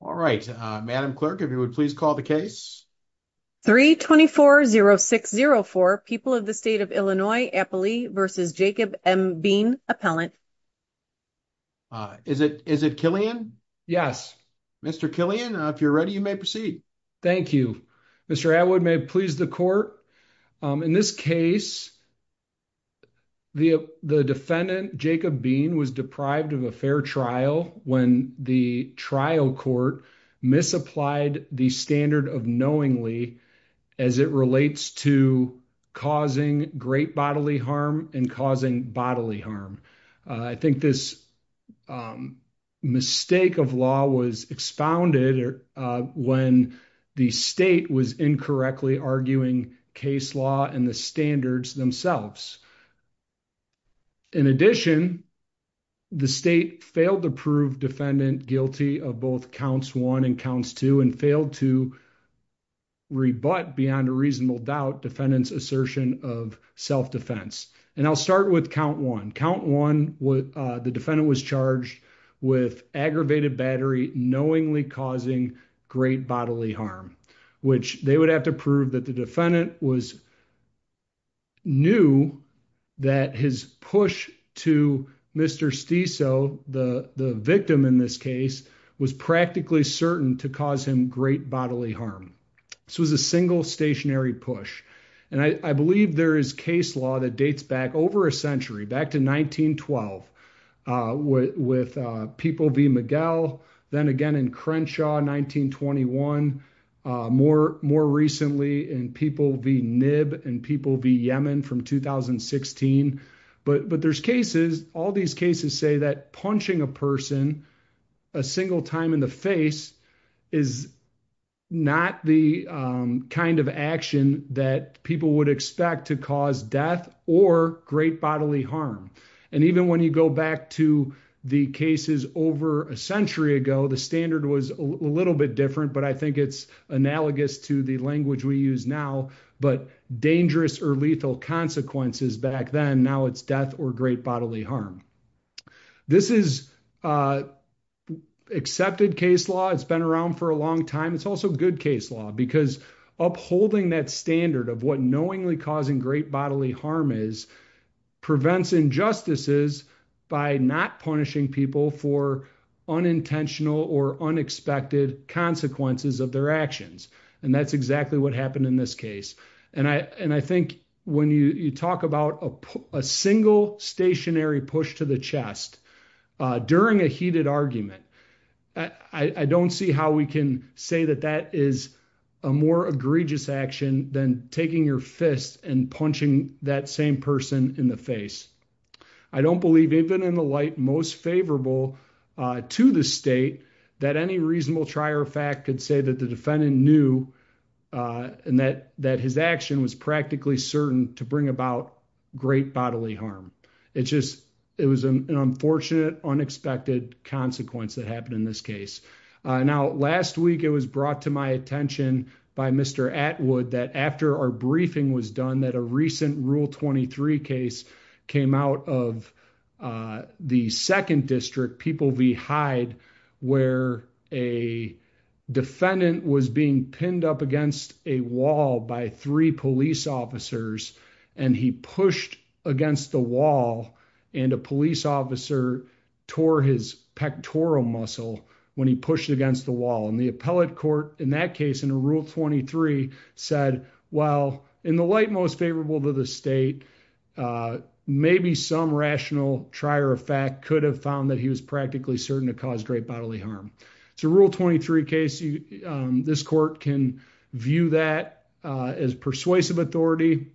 All right, Madam Clerk, if you would please call the case. 324-0604, People of the State of Illinois, Applee v. Jacob M. Bean, Appellant. Is it Killian? Yes. Mr. Killian, if you're ready, you may proceed. Thank you. Mr. Atwood, may it please the court, in this case, the defendant, Jacob Bean, was deprived of a fair trial when the trial court misapplied the standard of knowingly as it relates to causing great bodily harm and causing bodily harm. I think this mistake of law was expounded when the state was incorrectly arguing case law and the standards themselves. In addition, the state failed to prove defendant guilty of both counts one and counts two and failed to rebut beyond a reasonable doubt defendant's assertion of self-defense. And I'll start with count one. Count one, the defendant was charged with aggravated battery knowingly causing great bodily harm, which they would have to the defendant was knew that his push to Mr. Stiesel, the victim in this case, was practically certain to cause him great bodily harm. This was a single stationary push. And I believe there is case law that dates back over a century, back to 1912, with People v. Miguel, then again in Crenshaw, 1921, more recently in People v. Nib and People v. Yemen from 2016. But there's cases, all these cases say that punching a person a single time in the face is not the kind of action that people would expect to cause death or great bodily harm. And even when you go back to the cases over a century ago, the standard was a little bit different, but I think it's analogous to the language we use now, but dangerous or lethal consequences back then, now it's death or great bodily harm. This is accepted case law. It's been around for a long time. It's also good case law because upholding that standard of what knowingly causing great bodily harm is prevents injustices by not punishing people for unintentional or unexpected consequences of their actions. And that's exactly what happened in this case. And I think when you talk about a single stationary push to the chest during a heated argument, I don't see how we can say that that is a more egregious action than taking your fist and punching that same person in the face. I don't believe, even in the light most favorable to the state, that any reasonable trier of fact could say that the defendant knew and that his action was practically certain to bring about great bodily harm. It was an unfortunate, unexpected consequence that happened in this case. Now, last week, it was brought to my attention by Mr. Atwood that after our briefing was done, that a recent Rule 23 case came out of the second district, People v. Hyde, where a defendant was being pinned up against a wall by three police officers, and he pushed against the wall, and a police officer tore his pectoral muscle when he pushed against the wall. And the appellate court in that case, in Rule 23, said, well, in the light most favorable to the state, maybe some rational trier of fact could have found that he was practically certain to cause great bodily harm. It's a Rule 23 case. This court can view that as persuasive authority.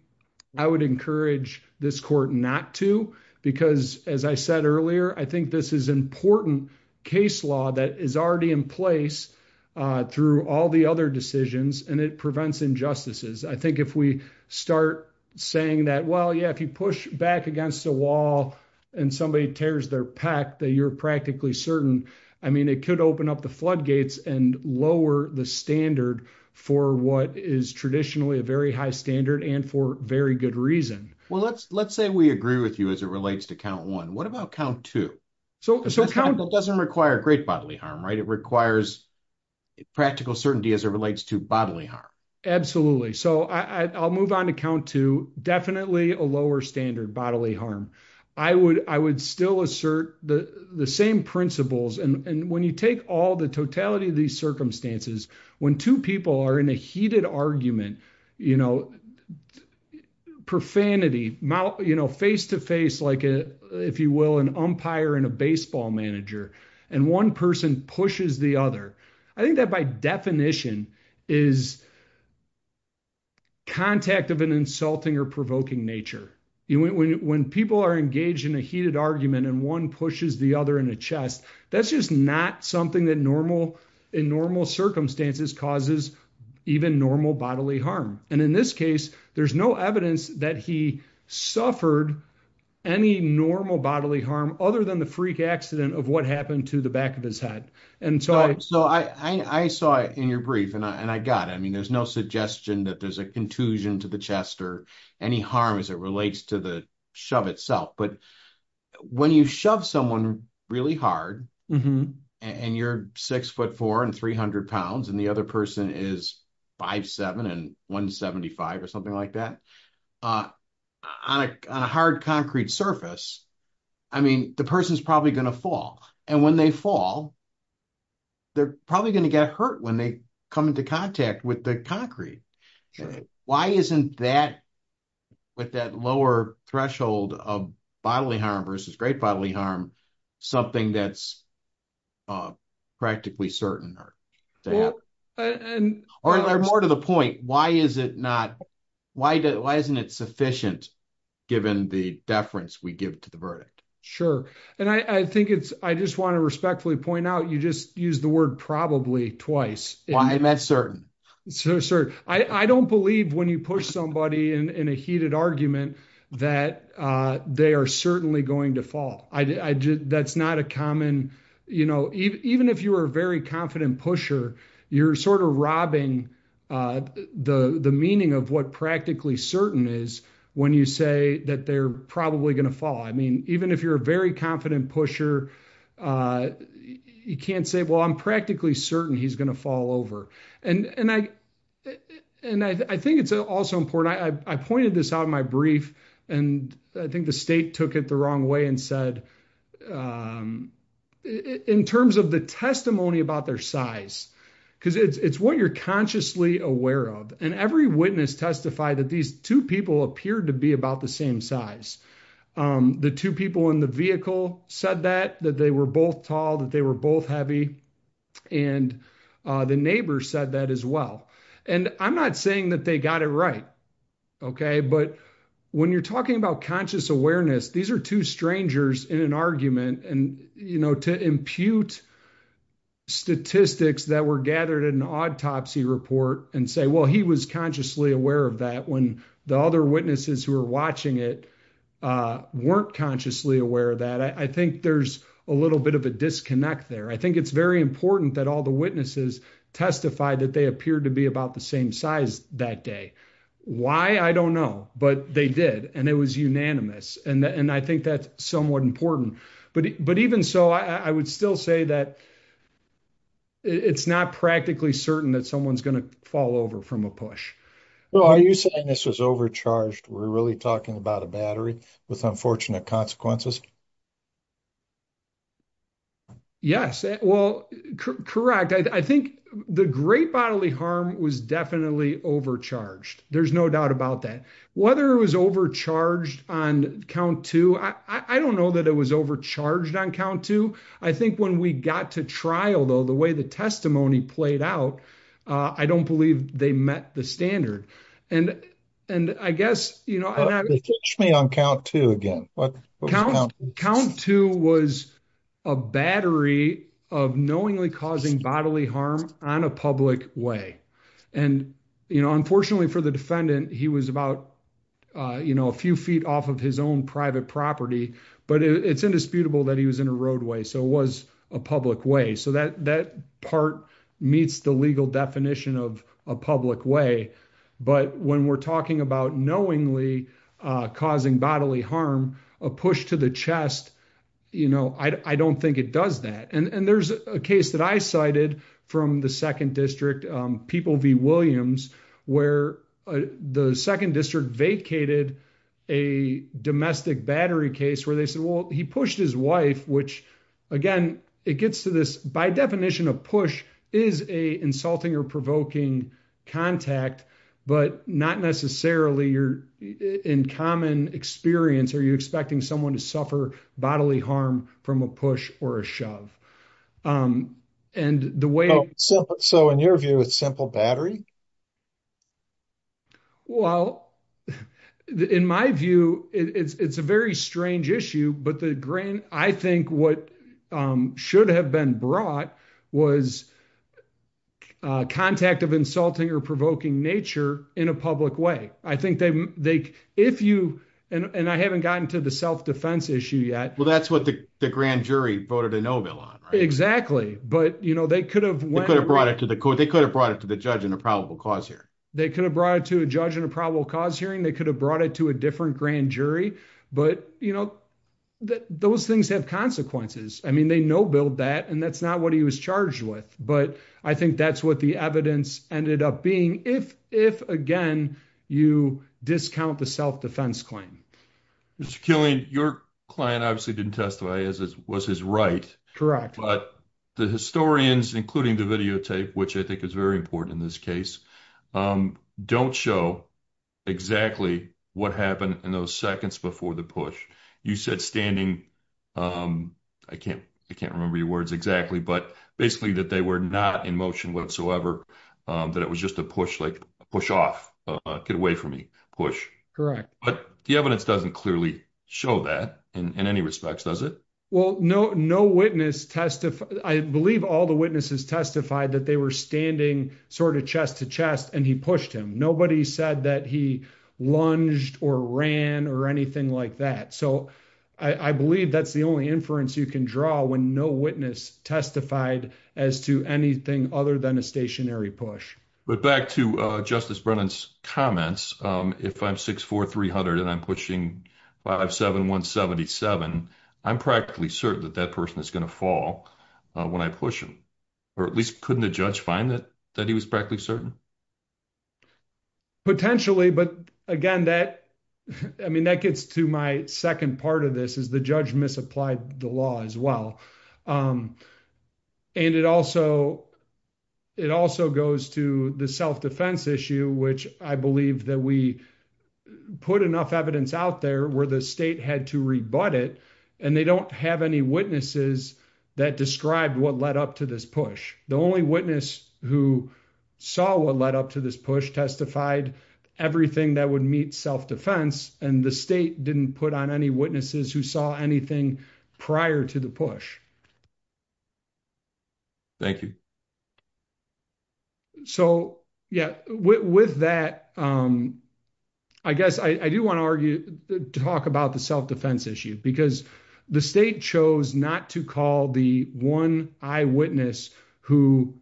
I would encourage this court not to because, as I said earlier, I think this is an important case law that is already in place through all the other decisions, and it prevents injustices. I think if we start saying that, well, yeah, if you push back against a wall and somebody tears their pec, that you're practically certain, I mean, it could open up the floodgates and lower the standard for what is traditionally a very high standard and for very good reason. Well, let's say we agree with you as it relates to count one. What about count two? It doesn't require great bodily harm, right? It requires practical certainty as it relates to bodily harm. Absolutely. So I'll move on to count two, definitely a lower standard bodily harm. I would still assert the same principles. And when you take all the totality of these circumstances, when two people are in a heated argument, profanity, face-to-face, if you will, an umpire and a baseball manager, and one person pushes the other, I think that by definition is contact of an insulting or provoking nature. When people are engaged in a heated causes even normal bodily harm. And in this case, there's no evidence that he suffered any normal bodily harm other than the freak accident of what happened to the back of his head. And so I saw in your brief and I got, I mean, there's no suggestion that there's a contusion to the chest or any harm as it relates to the shove itself. But when you shove someone really hard and you're six foot four and 300 pounds, and the other person is five, seven, and one 75 or something like that on a hard concrete surface, I mean, the person's probably going to fall. And when they fall, they're probably going to get hurt when they come into contact with the concrete. Why isn't that with that lower threshold of bodily harm versus great bodily harm, something that's practically certain or more to the point, why isn't it sufficient, given the deference we give to the verdict? Sure. And I think it's, I just want to respectfully point out, you just use the word probably twice. Why am I certain? I don't believe when you push somebody in a heated argument that they are certainly going to fall. That's not a common, you know, even if you were a very confident pusher, you're sort of robbing the meaning of what practically certain is when you say that they're probably going to fall. I mean, even if you're a very confident pusher, you can't say, well, I'm practically certain he's going to fall over. And I think it's also important, I pointed this out in my brief, and I think the state took it the wrong way and said, in terms of the testimony about their size, because it's what you're consciously aware of. And every witness testified that these two people appeared to be about the same size. The two people in the vehicle said that, that they were both tall, that they were both heavy. And the neighbor said that as well. And I'm not saying that they got it right. But when you're talking about conscious awareness, these are two strangers in an argument. And, you know, to impute statistics that were gathered in an autopsy report and say, well, he was consciously aware of that when the other witnesses who were watching it weren't consciously aware of that. I think there's a little bit of a disconnect there. I think it's very important that all the witnesses testified that they appeared to be about the same size that day. Why? I don't know. But they did. And it was unanimous. And I think that's somewhat important. But even so, I would still say that it's not practically certain that someone's going to fall over from a push. Well, are you saying this was overcharged? We're really talking about a battery with unfortunate consequences? Yes. Well, correct. I think the great bodily harm was definitely overcharged. There's no doubt about that. Whether it was overcharged on count two, I don't know that it was overcharged on count two. I think when we got to trial, though, the way the testimony played out, I don't believe they met the standard. And, and I guess, you know, on count two again, count two was a battery of knowingly causing bodily harm on a public way. And, you know, unfortunately for the defendant, he was about, you know, a few feet off of his own private property. But it's indisputable that he was in a roadway. So it was a public way. So that that part meets the legal definition of a public way. But when we're talking about knowingly causing bodily harm, a push to the chest, you know, I don't think it does that. And there's a case that I cited from the second district, People v. Williams, where the second district vacated a domestic battery case where they said, well, he pushed his wife, which again, it gets to by definition, a push is a insulting or provoking contact, but not necessarily you're in common experience, are you expecting someone to suffer bodily harm from a push or a shove? And the way so in your view, it's simple battery? Well, in my view, it's a very strange issue. But the grain, I think what should have been brought was contact of insulting or provoking nature in a public way. I think they if you and I haven't gotten to the self defense issue yet. Well, that's what the grand jury voted a no bill on. Exactly. But you know, they could have went abroad to the court, they could have brought it to the judge in a probable cause here. They could have brought it to a judge in a probable cause hearing, they could have brought it to a different grand jury. But you know, those things have consequences. I mean, they know build that and that's not what he was charged with. But I think that's what the evidence ended up being if if again, you discount the self defense claim. Mr. Killian, your client obviously didn't testify as it was his right. But the historians, including the videotape, which I think is very important in this case, don't show exactly what happened in those seconds before the push. You said standing. I can't, I can't remember your words exactly. But basically, that they were not in motion whatsoever. That it was just a push, like push off, get away from me push. But the evidence doesn't clearly show that in any respects, does it? Well, no, no witness testified. I believe all the witnesses testified that they were standing sort of chest to chest and he pushed him. Nobody said that he lunged or ran or anything like that. So I believe that's the only inference you can draw when no witness testified as to anything other than a stationary push. But back to Justice Brennan's comments. If I'm 64300 and I'm pushing 57177, I'm practically certain that that person is going to when I push him. Or at least couldn't the judge find that that he was practically certain? Potentially, but again, that I mean, that gets to my second part of this is the judge misapplied the law as well. And it also it also goes to the self defense issue, which I believe that we put enough evidence out there where the state had to rebut it, and they don't have any witnesses that described what led up to this push. The only witness who saw what led up to this push testified everything that would meet self defense, and the state didn't put on any witnesses who saw anything prior to the push. Thank you. So, yeah, with that, I guess I do want to argue, talk about the self defense issue, because the state chose not to call the one eyewitness who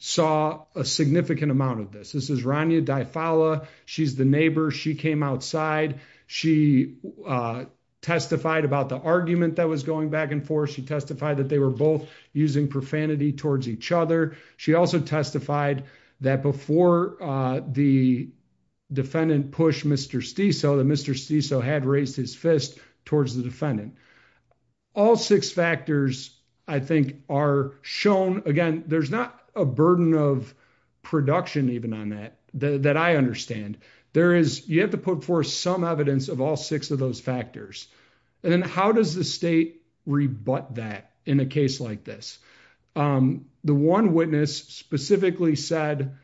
saw a significant amount of this. This is Rania Di Fala. She's the neighbor. She came outside. She testified about the argument that was going back and forth. She testified that they were both using profanity towards each other. She also testified that before the defendant pushed Mr. Steso, that Mr. Steso had raised his towards the defendant. All six factors, I think, are shown. Again, there's not a burden of production even on that, that I understand. There is, you have to put forth some evidence of all six of those factors. And then how does the state rebut that in a case like this? The one witness specifically said,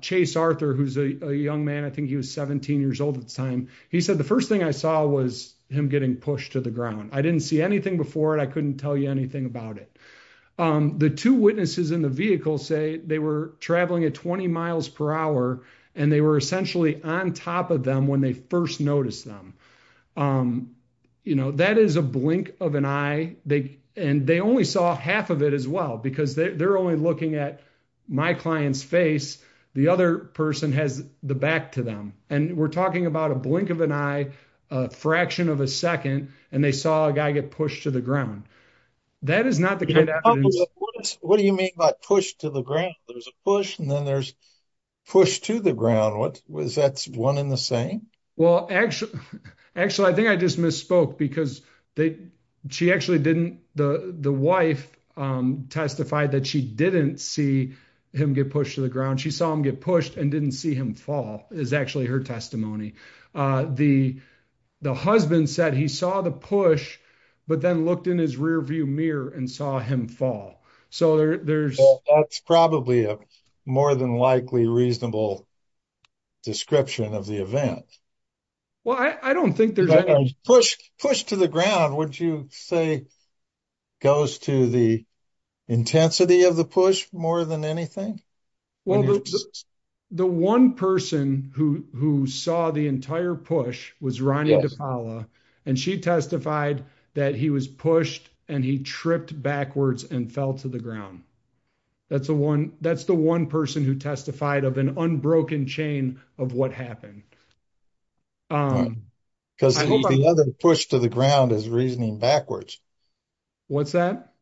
Chase Arthur, who's a young man, I think he was 17 years old at the time. He said, the first thing I saw was him getting pushed to the ground. I didn't see anything before it. I couldn't tell you anything about it. The two witnesses in the vehicle say they were traveling at 20 miles per hour, and they were essentially on top of them when they first noticed them. That is a blink of an eye. And they only saw half of it as well, because they're only looking at my client's face. The other person has the back to them. And we're talking about a blink of an eye, a fraction of a second, and they saw a guy get pushed to the ground. That is not the kind of evidence- What do you mean by push to the ground? There's a push, and then there's push to the ground. Was that one in the same? Well, actually, I think I just misspoke because she actually didn't, the wife testified that she didn't see him get pushed to the ground. She saw him get pushed and didn't see him fall is actually her testimony. The husband said he saw the push, but then looked in his rearview mirror and saw him fall. So there's- Well, that's probably a more than likely reasonable description of the event. Well, I don't think there's- Push to the ground, would you say goes to the intensity of the push more than anything? Well, the one person who saw the entire push was Ronnie DePaola, and she testified that he was pushed and he tripped backwards and fell to the ground. That's the one person who testified of an unbroken chain of what happened. Because the other push to the ground is reasoning backwards. What's that?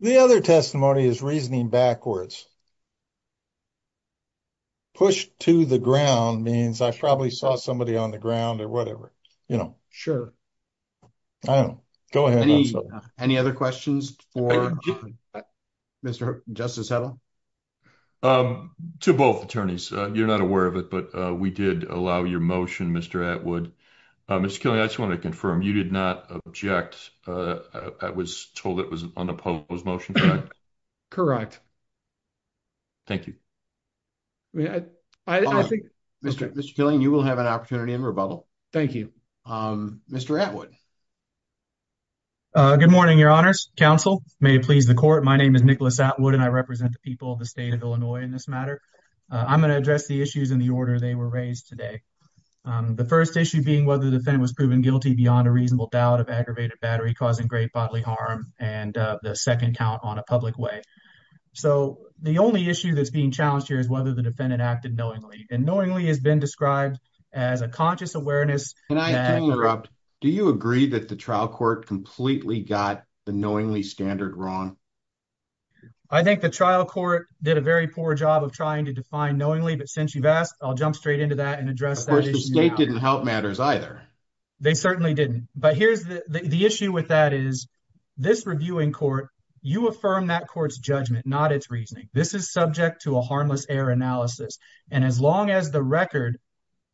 The other testimony is reasoning backwards. Push to the ground means I probably saw somebody on the ground or whatever, you know. I don't know. Go ahead. Any other questions for Mr. Justice Hedlund? To both attorneys, you're not aware of it, but we did allow your motion, Mr. Atwood. Mr. Killian, I just want to confirm you did not object. I was told it was an unopposed motion, correct? Correct. Thank you. Mr. Killian, you will have an opportunity in rebuttal. Thank you. Mr. Atwood. Good morning, your honors, counsel. May it please the court. My name is Nicholas Atwood, and I represent the people of the state of Illinois in this matter. I'm going to address the issues in the order they were raised today. The first issue being whether the defendant was proven guilty beyond a reasonable doubt of aggravated battery causing great bodily harm, and the second count on a public way. So the only issue that's being challenged here is whether the defendant acted knowingly. And knowingly has been described as a conscious awareness. Can I interrupt? Do you agree that the trial court completely got the knowingly standard wrong? I think the trial court did a very poor job of trying to define knowingly, but since you've asked, I'll jump straight into that and address that. Of course, the state didn't help matters either. They certainly didn't. But here's the issue with that is this reviewing court, you affirm that court's judgment, not its reasoning. This is subject to a harmless error analysis. And as long as the record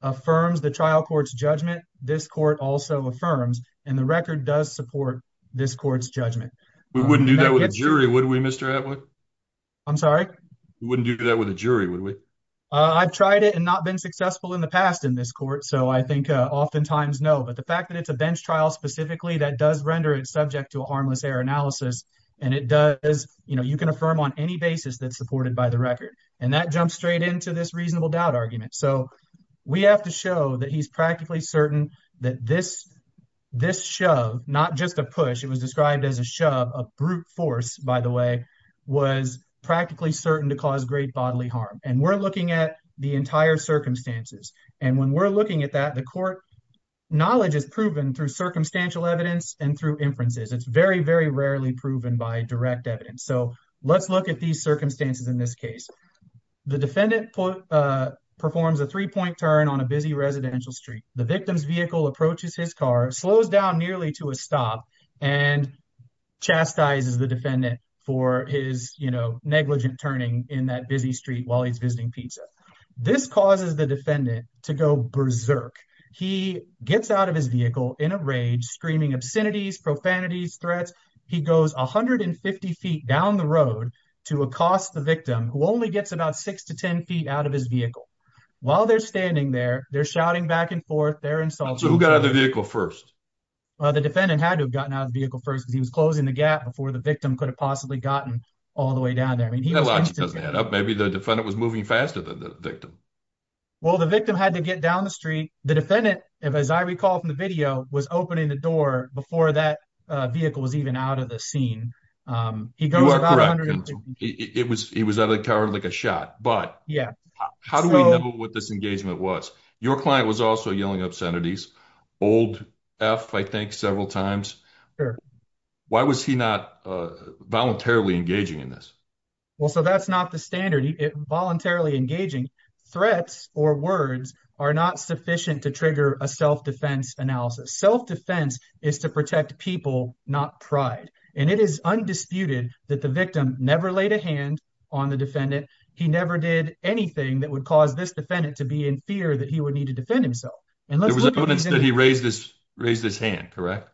affirms the trial court's judgment, this court also affirms, and the record does support this court's judgment. We wouldn't do that with a jury, would we, Mr. Atwood? I'm sorry? We wouldn't do that with a jury, would we? I've tried it and not been successful in the past in this court. So I think oftentimes, no. But the fact that it's a bench trial specifically, that does render it subject to a harmless error analysis. And you can affirm on any basis that's supported by the record. And that jumps straight into this reasonable doubt argument. So we have to show that he's practically certain that this shove, not just a push, it was described as a shove, a brute force, by the way, was practically certain to cause great bodily harm. And we're looking at the entire circumstances. And when we're looking at that, the court knowledge is proven through circumstantial evidence and through inferences. It's very, very rarely proven by direct evidence. So let's look at these circumstances in this case. The defendant performs a three-point turn on a busy residential street. The victim's vehicle approaches his car, slows down nearly to a stop, and chastises the defendant for his negligent turning in that busy street while he's visiting pizza. This causes the defendant to go berserk. He gets out of his vehicle in a rage, screaming obscenities, profanities, threats. He goes 150 feet down the road to accost the victim, who only gets about six to 10 feet out of his vehicle. While they're standing there, they're shouting back and forth. They're insulting. So who got out of the vehicle first? The defendant had to have gotten out of the vehicle first, because he was closing the gap before the victim could have possibly gotten all the way down there. That logic doesn't add up. Maybe the defendant was moving faster than the victim. Well, the victim had to get down the street. The defendant, as I recall from the video, was opening the door before that vehicle was even out of the scene. You are correct. He was out of the car in like a shot. But how do we know what this engagement was? Your client was also yelling obscenities. Old F, I think, several times. Why was he not voluntarily engaging in this? So that's not the standard, voluntarily engaging. Threats or words are not sufficient to trigger a self-defense analysis. Self-defense is to protect people, not pride. And it is undisputed that the victim never laid a hand on the defendant. He never did anything that would cause this defendant to be in fear that he would need to defend himself. There was evidence that he raised his hand, correct?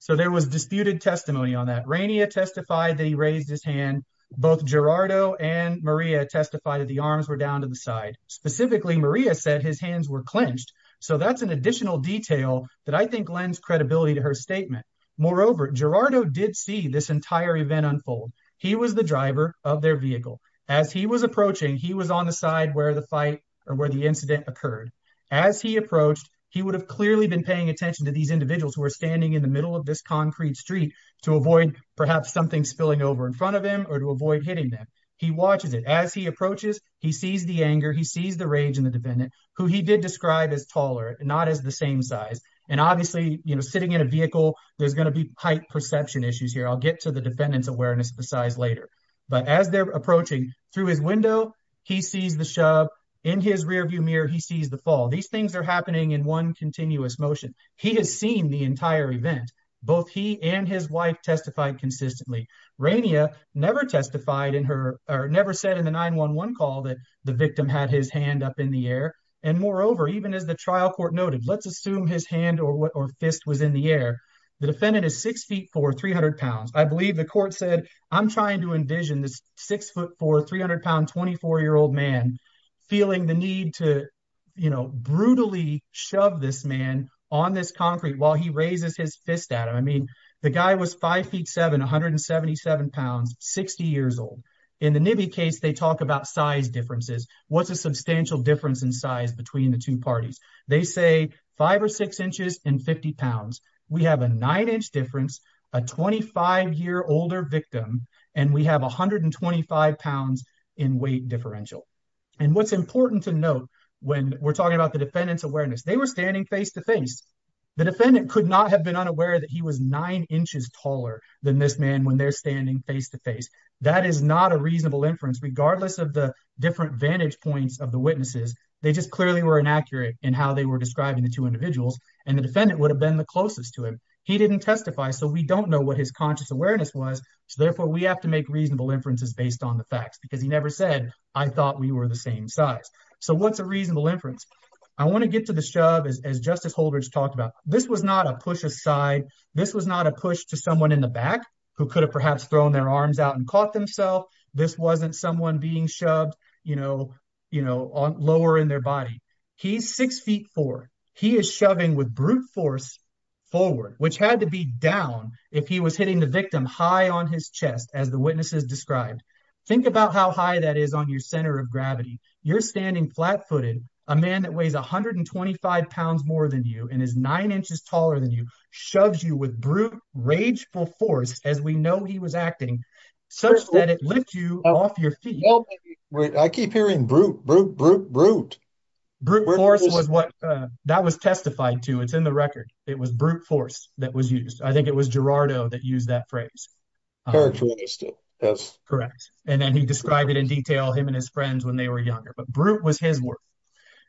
So there was disputed testimony on that. Rania testified that he raised his hand. Both Gerardo and Maria testified that the arms were down to the side. Specifically, Maria said his hands were clenched. So that's an additional detail that I think lends credibility to her statement. Moreover, Gerardo did see this entire event unfold. He was the driver of their vehicle. As he was approaching, he was on the side where the fight or where the incident occurred. As he approached, he would have clearly been paying attention to these individuals who are standing in the middle of this concrete street to avoid perhaps something spilling over in front of him or to avoid hitting them. He watches it. As he approaches, he sees the anger. He sees the rage in the defendant, who he did describe as taller, not as the same size. And obviously, you know, sitting in a vehicle, there's going to be height perception issues here. I'll get to the defendant's awareness of the size later. But as they're approaching through his window, he sees the shove. In his rearview mirror, he sees the fall. These things are happening in one continuous motion. He has seen the entire event. Both he and his wife testified consistently. Rainia never testified in her or never said in the 911 call that the victim had his hand up in the air. And moreover, even as the trial court noted, let's assume his hand or fist was in the air. The defendant is six feet four, 300 pounds. I believe the court said, I'm trying to envision this six foot four, 300 pound, 24 year old man feeling the need to, you know, brutally shove this man on this concrete while he raises his fist at him. I mean, the guy was five feet seven, 177 pounds, 60 years old. In the Nibi case, they talk about size differences. What's a substantial difference in size between the two parties? They say five or six inches and 50 pounds. We have a nine inch difference, a 25 year older victim, and we have 125 pounds in weight differential. What's important to note when we're talking about the defendant's awareness, they were standing face to face. The defendant could not have been unaware that he was nine inches taller than this man when they're standing face to face. That is not a reasonable inference, regardless of the different vantage points of the witnesses. They just clearly were inaccurate in how they were describing the two individuals and the defendant would have been the closest to him. He didn't testify, so we don't know what his conscious awareness was. So therefore, we have to make reasonable inferences based on the facts because he never said, I thought we were the same size. So what's a reasonable inference? I want to get to the shove as Justice Holdridge talked about. This was not a push aside. This was not a push to someone in the back who could have perhaps thrown their arms out and caught themselves. This wasn't someone being shoved lower in their body. He's six feet four. He is shoving with brute force forward, which had to be down if he was hitting the victim high on his chest as the witnesses described. Think about how high that is on your center of gravity. You're standing flat footed. A man that weighs 125 pounds more than you and is nine inches taller than you shoves you with brute, rageful force as we know he was acting such that it lifts you off your feet. Well, I keep hearing brute, brute, brute, brute. Brute force was what that was testified to. It's in the record. It was brute force that was used. I think it was Gerardo that used that phrase. Characteristic, yes. Correct. And then he described it in detail, him and his friends when they were younger, but brute was his word.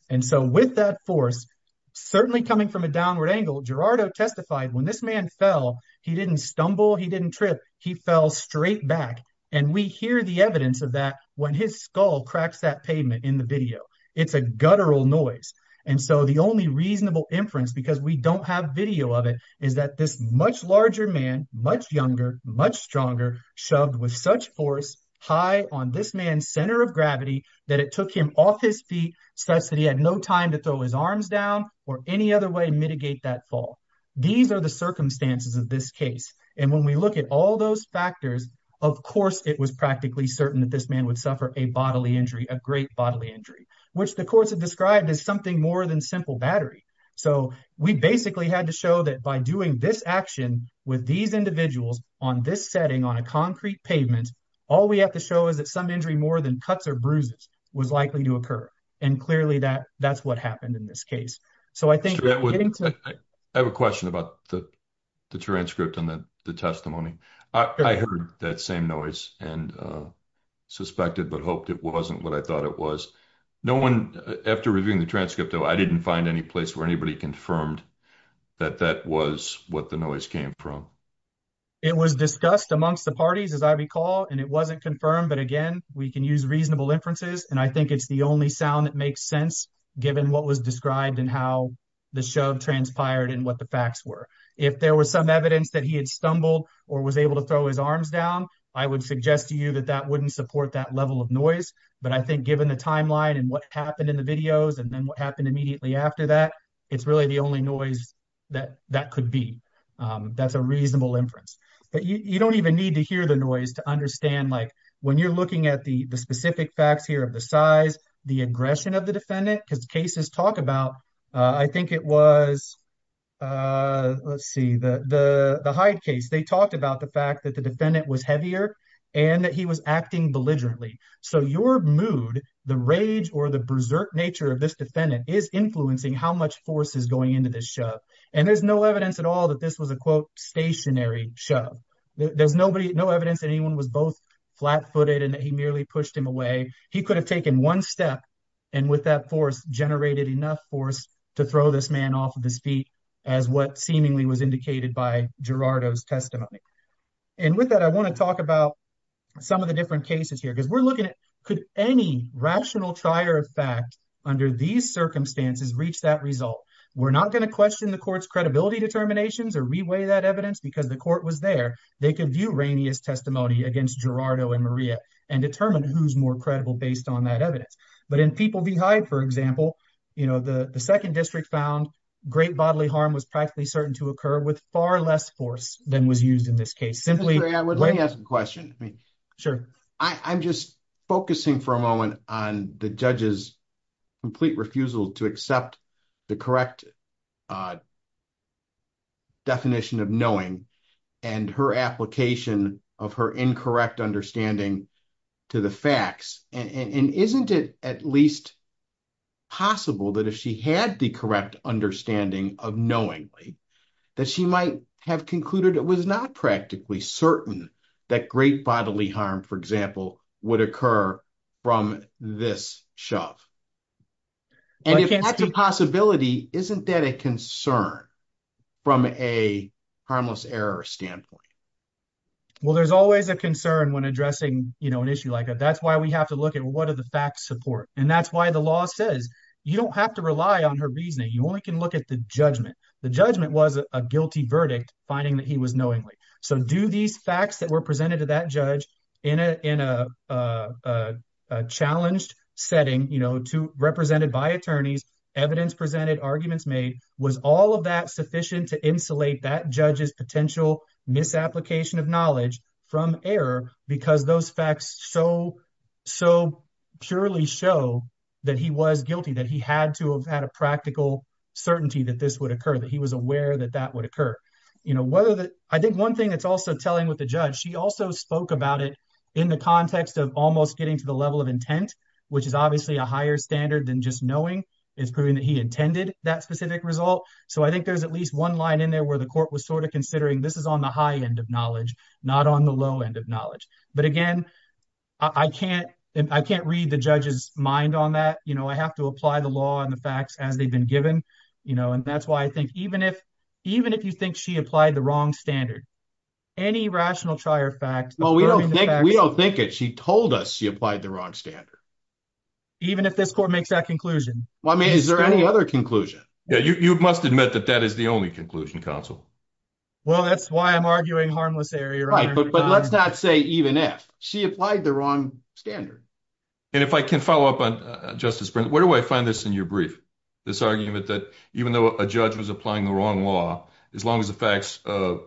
And so with that force, certainly coming from a downward angle, Gerardo testified when this man fell, he didn't stumble. He didn't trip. He fell straight back. And we hear the evidence of that when his skull cracks that pavement in the video. It's a guttural noise. And so the only reasonable inference, because we don't have video of it, is that this much larger man, much younger, much stronger, shoved with such force high on this man's center of gravity that it took him off his feet such that he had no time to throw his arms down or any other way to mitigate that fall. These are the circumstances of this case. And when we look at all those factors, of course, it was practically certain that this man would suffer a bodily injury, a great bodily injury, which the courts have described as something more than simple battery. So we basically had to show that by doing this action with these individuals on this setting, on a concrete pavement, all we have to show is that some injury more than cuts or bruises was likely to occur. And clearly, that's what happened in this case. So I think- I have a question about the transcript and the testimony. I heard that same noise and suspected but hoped it wasn't what I thought it was. No one, after reviewing the transcript, I didn't find any place where anybody confirmed that that was what the noise came from. It was discussed amongst the parties, as I recall, and it wasn't confirmed. But again, we can use reasonable inferences. And I think it's the only sound that makes sense, given what was described and how the shove transpired and what the facts were. If there was some evidence that he had stumbled or was able to throw his arms down, I would suggest to you that that wouldn't support that level of noise. But I think given the timeline and what happened in the videos and then what happened immediately after that, it's really the only noise that that could be. That's a reasonable inference. But you don't even need to hear the noise to understand, like, when you're looking at the specific facts here of the size, the aggression of the defendant, because cases talk about- I think it was, let's see, the Hyde case. They talked about the fact that the defendant was heavier and that he was acting belligerently. So your mood, the rage, or the berserk nature of this defendant is influencing how much force is going into this shove. And there's no evidence at all that this was a, quote, stationary shove. There's no evidence that anyone was both flat-footed and that he merely pushed him away. He could have taken one step and, with that force, generated enough force to throw this man off of his feet as what seemingly was indicated by Gerardo's testimony. And with that, I want to talk about some of the different cases here, could any rational trier of fact under these circumstances reach that result? We're not going to question the court's credibility determinations or reweigh that evidence because the court was there. They could view Rainey's testimony against Gerardo and Maria and determine who's more credible based on that evidence. But in People v. Hyde, for example, the second district found great bodily harm was practically certain to occur with far less force than was used in this case. Let me ask a question. I'm just focusing for a moment on the judge's complete refusal to accept the correct definition of knowing and her application of her incorrect understanding to the facts. And isn't it at least possible that if she had the correct understanding of knowingly, that she might have concluded it was not practically certain that great bodily harm, for example, would occur from this shove? And if that's a possibility, isn't that a concern from a harmless error standpoint? Well, there's always a concern when addressing an issue like that. That's why we have to look at what are the facts support. And that's why the law says you don't have to rely on her reasoning. You only can look at the judgment. The judgment was a guilty verdict, finding that he was knowingly. So do these facts that were presented to that judge in a challenged setting, represented by attorneys, evidence presented, arguments made, was all of that sufficient to insulate that judge's potential misapplication of knowledge from error? Because those facts so purely show that he was guilty, that he had to have had a practical certainty that this would occur, that he was aware that that would occur. I think one thing that's also telling with the judge, she also spoke about it in the context of almost getting to the level of intent, which is obviously a higher standard than just knowing. It's proving that he intended that specific result. So I think there's at least one line in there where the court was sort of considering this is on the high end of knowledge, not on the low end of knowledge. But again, I can't read the judge's mind on that. I have to apply the law and the facts as they've been given. And that's why I think even if you think she applied the wrong standard, any rational trier fact- Well, we don't think it. She told us she applied the wrong standard. Even if this court makes that conclusion? Well, I mean, is there any other conclusion? Yeah, you must admit that that is the only conclusion, counsel. Well, that's why I'm arguing harmless error. Right, but let's not say even if. She applied the wrong standard. And if I can follow up on Justice Brent, where do I find this in your brief? This argument that even though a judge was applying the wrong law, as long as the facts- Well,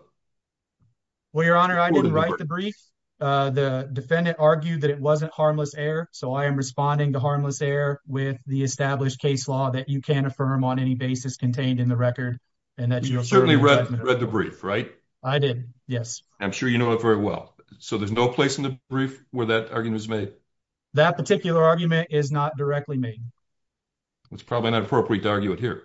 Your Honor, I didn't write the brief. The defendant argued that it wasn't harmless error. So I am responding to harmless error with the established case law that you can't affirm on any basis contained in the record. And that's your- You certainly read the brief, right? I did, yes. I'm sure you know it very well. So there's no place in the brief where that argument was made? That particular argument is not directly made. It's probably not appropriate to argue it here.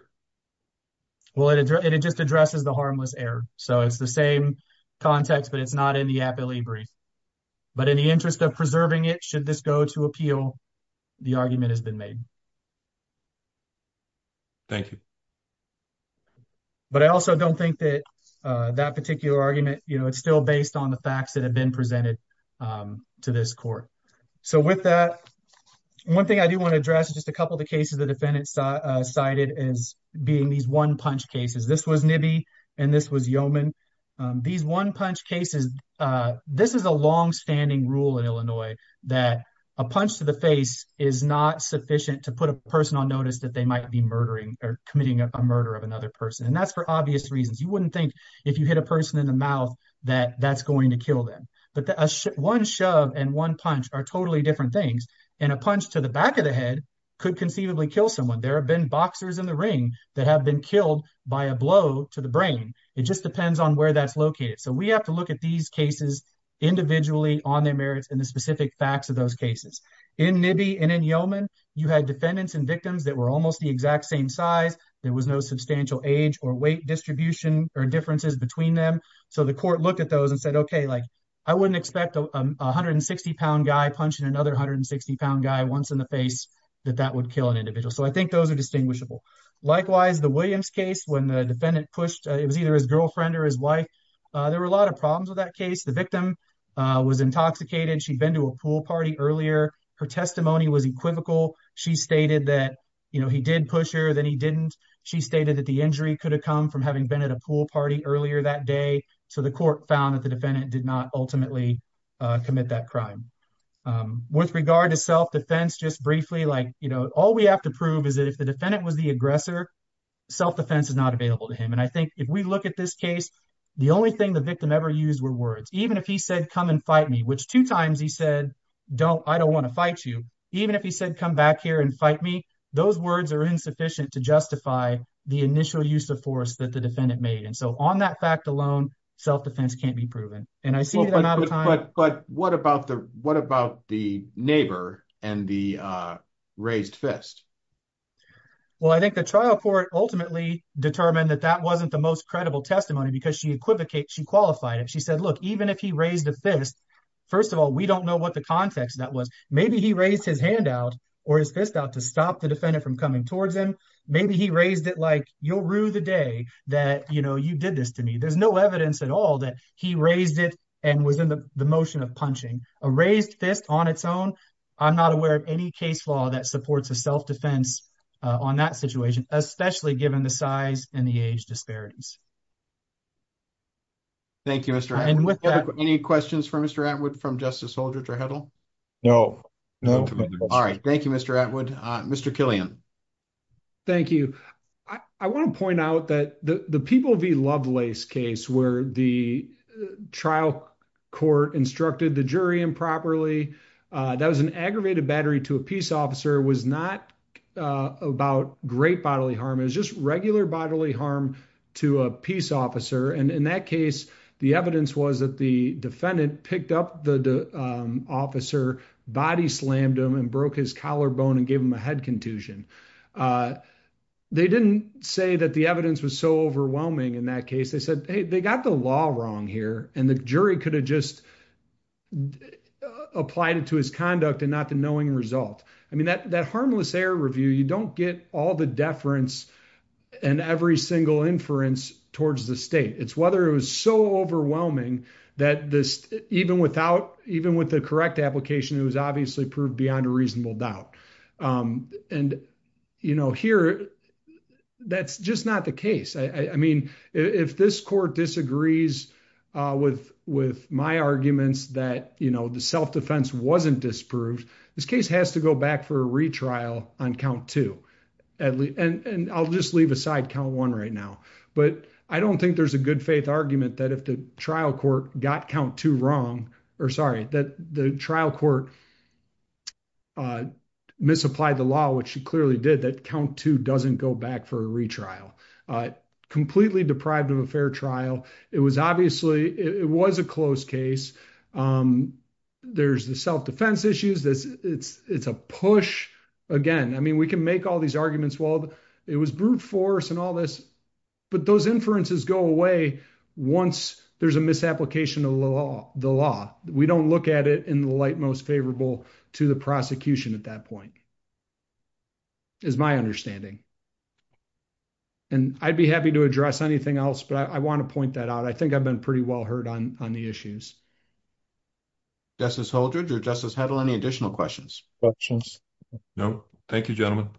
Well, it just addresses the harmless error. So it's the same context, but it's not in the appellee brief. But in the interest of preserving it, should this go to appeal, the argument has been made. Thank you. But I also don't think that that particular argument, you know, it's still based on the facts that have been presented to this court. So with that, one thing I do want to address is just a couple of the cases the defendant cited as being these one-punch cases. This was Nibi and this was Yeoman. These one-punch cases, this is a long-standing rule in Illinois that a punch to the face is not sufficient to put a person on notice that they might be murdering or committing a murder of another person. And that's for obvious reasons. You wouldn't think if you hit a person in the mouth that that's going to kill them. But one shove and one punch are totally different things. And a punch to the back of the head could conceivably kill someone. There have been boxers in the ring that have been killed by a blow to the brain. It just depends on where that's located. So we have to look at these cases individually on their merits and the specific facts of those cases. In Nibi and in Yeoman, you had defendants and victims that were almost the exact same size. There was no substantial age or weight distribution or differences between them. So the court looked at those and said, okay, I wouldn't expect a 160-pound guy punching another 160-pound guy once in the face that that would kill an individual. So I think those are distinguishable. Likewise, the Williams case, when the defendant pushed, it was either his girlfriend or his There were a lot of problems with that case. The victim was intoxicated. She'd been to a pool party earlier. Her testimony was equivocal. She stated that he did push her, then he didn't. She stated that the injury could have come from having been at a pool party earlier that So the court found that the defendant did not ultimately commit that crime. With regard to self-defense, just briefly, all we have to prove is that if the defendant was the aggressor, self-defense is not available to him. And I think if we look at this case, the only thing the victim ever used were words. Even if he said, come and fight me, which two times he said, I don't want to fight you. Even if he said, come back here and fight me, those words are insufficient to justify the initial use of force that the defendant made. So on that fact alone, self-defense can't be proven. But what about the neighbor and the raised fist? Well, I think the trial court ultimately determined that that wasn't the most credible testimony because she qualified it. She said, look, even if he raised a fist, first of all, we don't know what the context that was. Maybe he raised his hand out or his fist out to stop the defendant from coming towards him. Maybe he raised it like, you'll rue the day that you did this to me. There's no evidence at all that he raised it and was in the motion of punching. A raised fist on its own, I'm not aware of any case law that supports a self-defense on that situation, especially given the size and the age disparities. Thank you, Mr. Atwood. Any questions for Mr. Atwood from Justice Holder-Trahedl? All right, thank you, Mr. Atwood. Mr. Killian. Thank you. I want to point out that the People v. Lovelace case where the trial court instructed the jury improperly, that was an aggravated battery to a peace officer, was not about great bodily harm. It was just regular bodily harm to a peace officer. And in that case, the evidence was that the defendant picked up the officer, body slammed him and broke his collarbone and gave him a head contusion. They didn't say that the evidence was so overwhelming in that case. They said, hey, they got the law wrong here and the jury could have just applied it to his conduct and not the knowing result. I mean, that harmless error review, you don't get all the deference and every single inference towards the state. It's whether it was so overwhelming that even with the correct application, it was obviously proved beyond a reasonable doubt. And, you know, here, that's just not the case. I mean, if this court disagrees with my arguments that, you know, the self-defense wasn't disproved, this case has to go back for a retrial on count two. And I'll just leave aside count one right now. But I don't think there's a good faith argument that if the trial court got count two wrong, or sorry, that the trial court misapplied the law, which it clearly did, that count two doesn't go back for a retrial. Completely deprived of a fair trial. It was obviously, it was a close case. There's the self-defense issues, it's a push. Again, I mean, we can make all these arguments. Well, it was brute force and all this, but those inferences go away once there's a misapplication of the law. We don't look at it in the light most favorable to the prosecution at that point, is my understanding. And I'd be happy to address anything else, but I want to point that out. I think I've been pretty well heard on the issues. Justice Holdred or Justice Hedl, any additional questions? No. Thank you, gentlemen.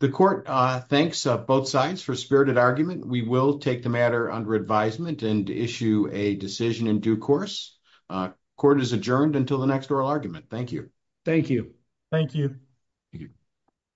The court thanks both sides for spirited argument. We will take the matter under advisement and issue a decision in due course. Court is adjourned until the next oral argument. Thank you. Thank you. Thank you.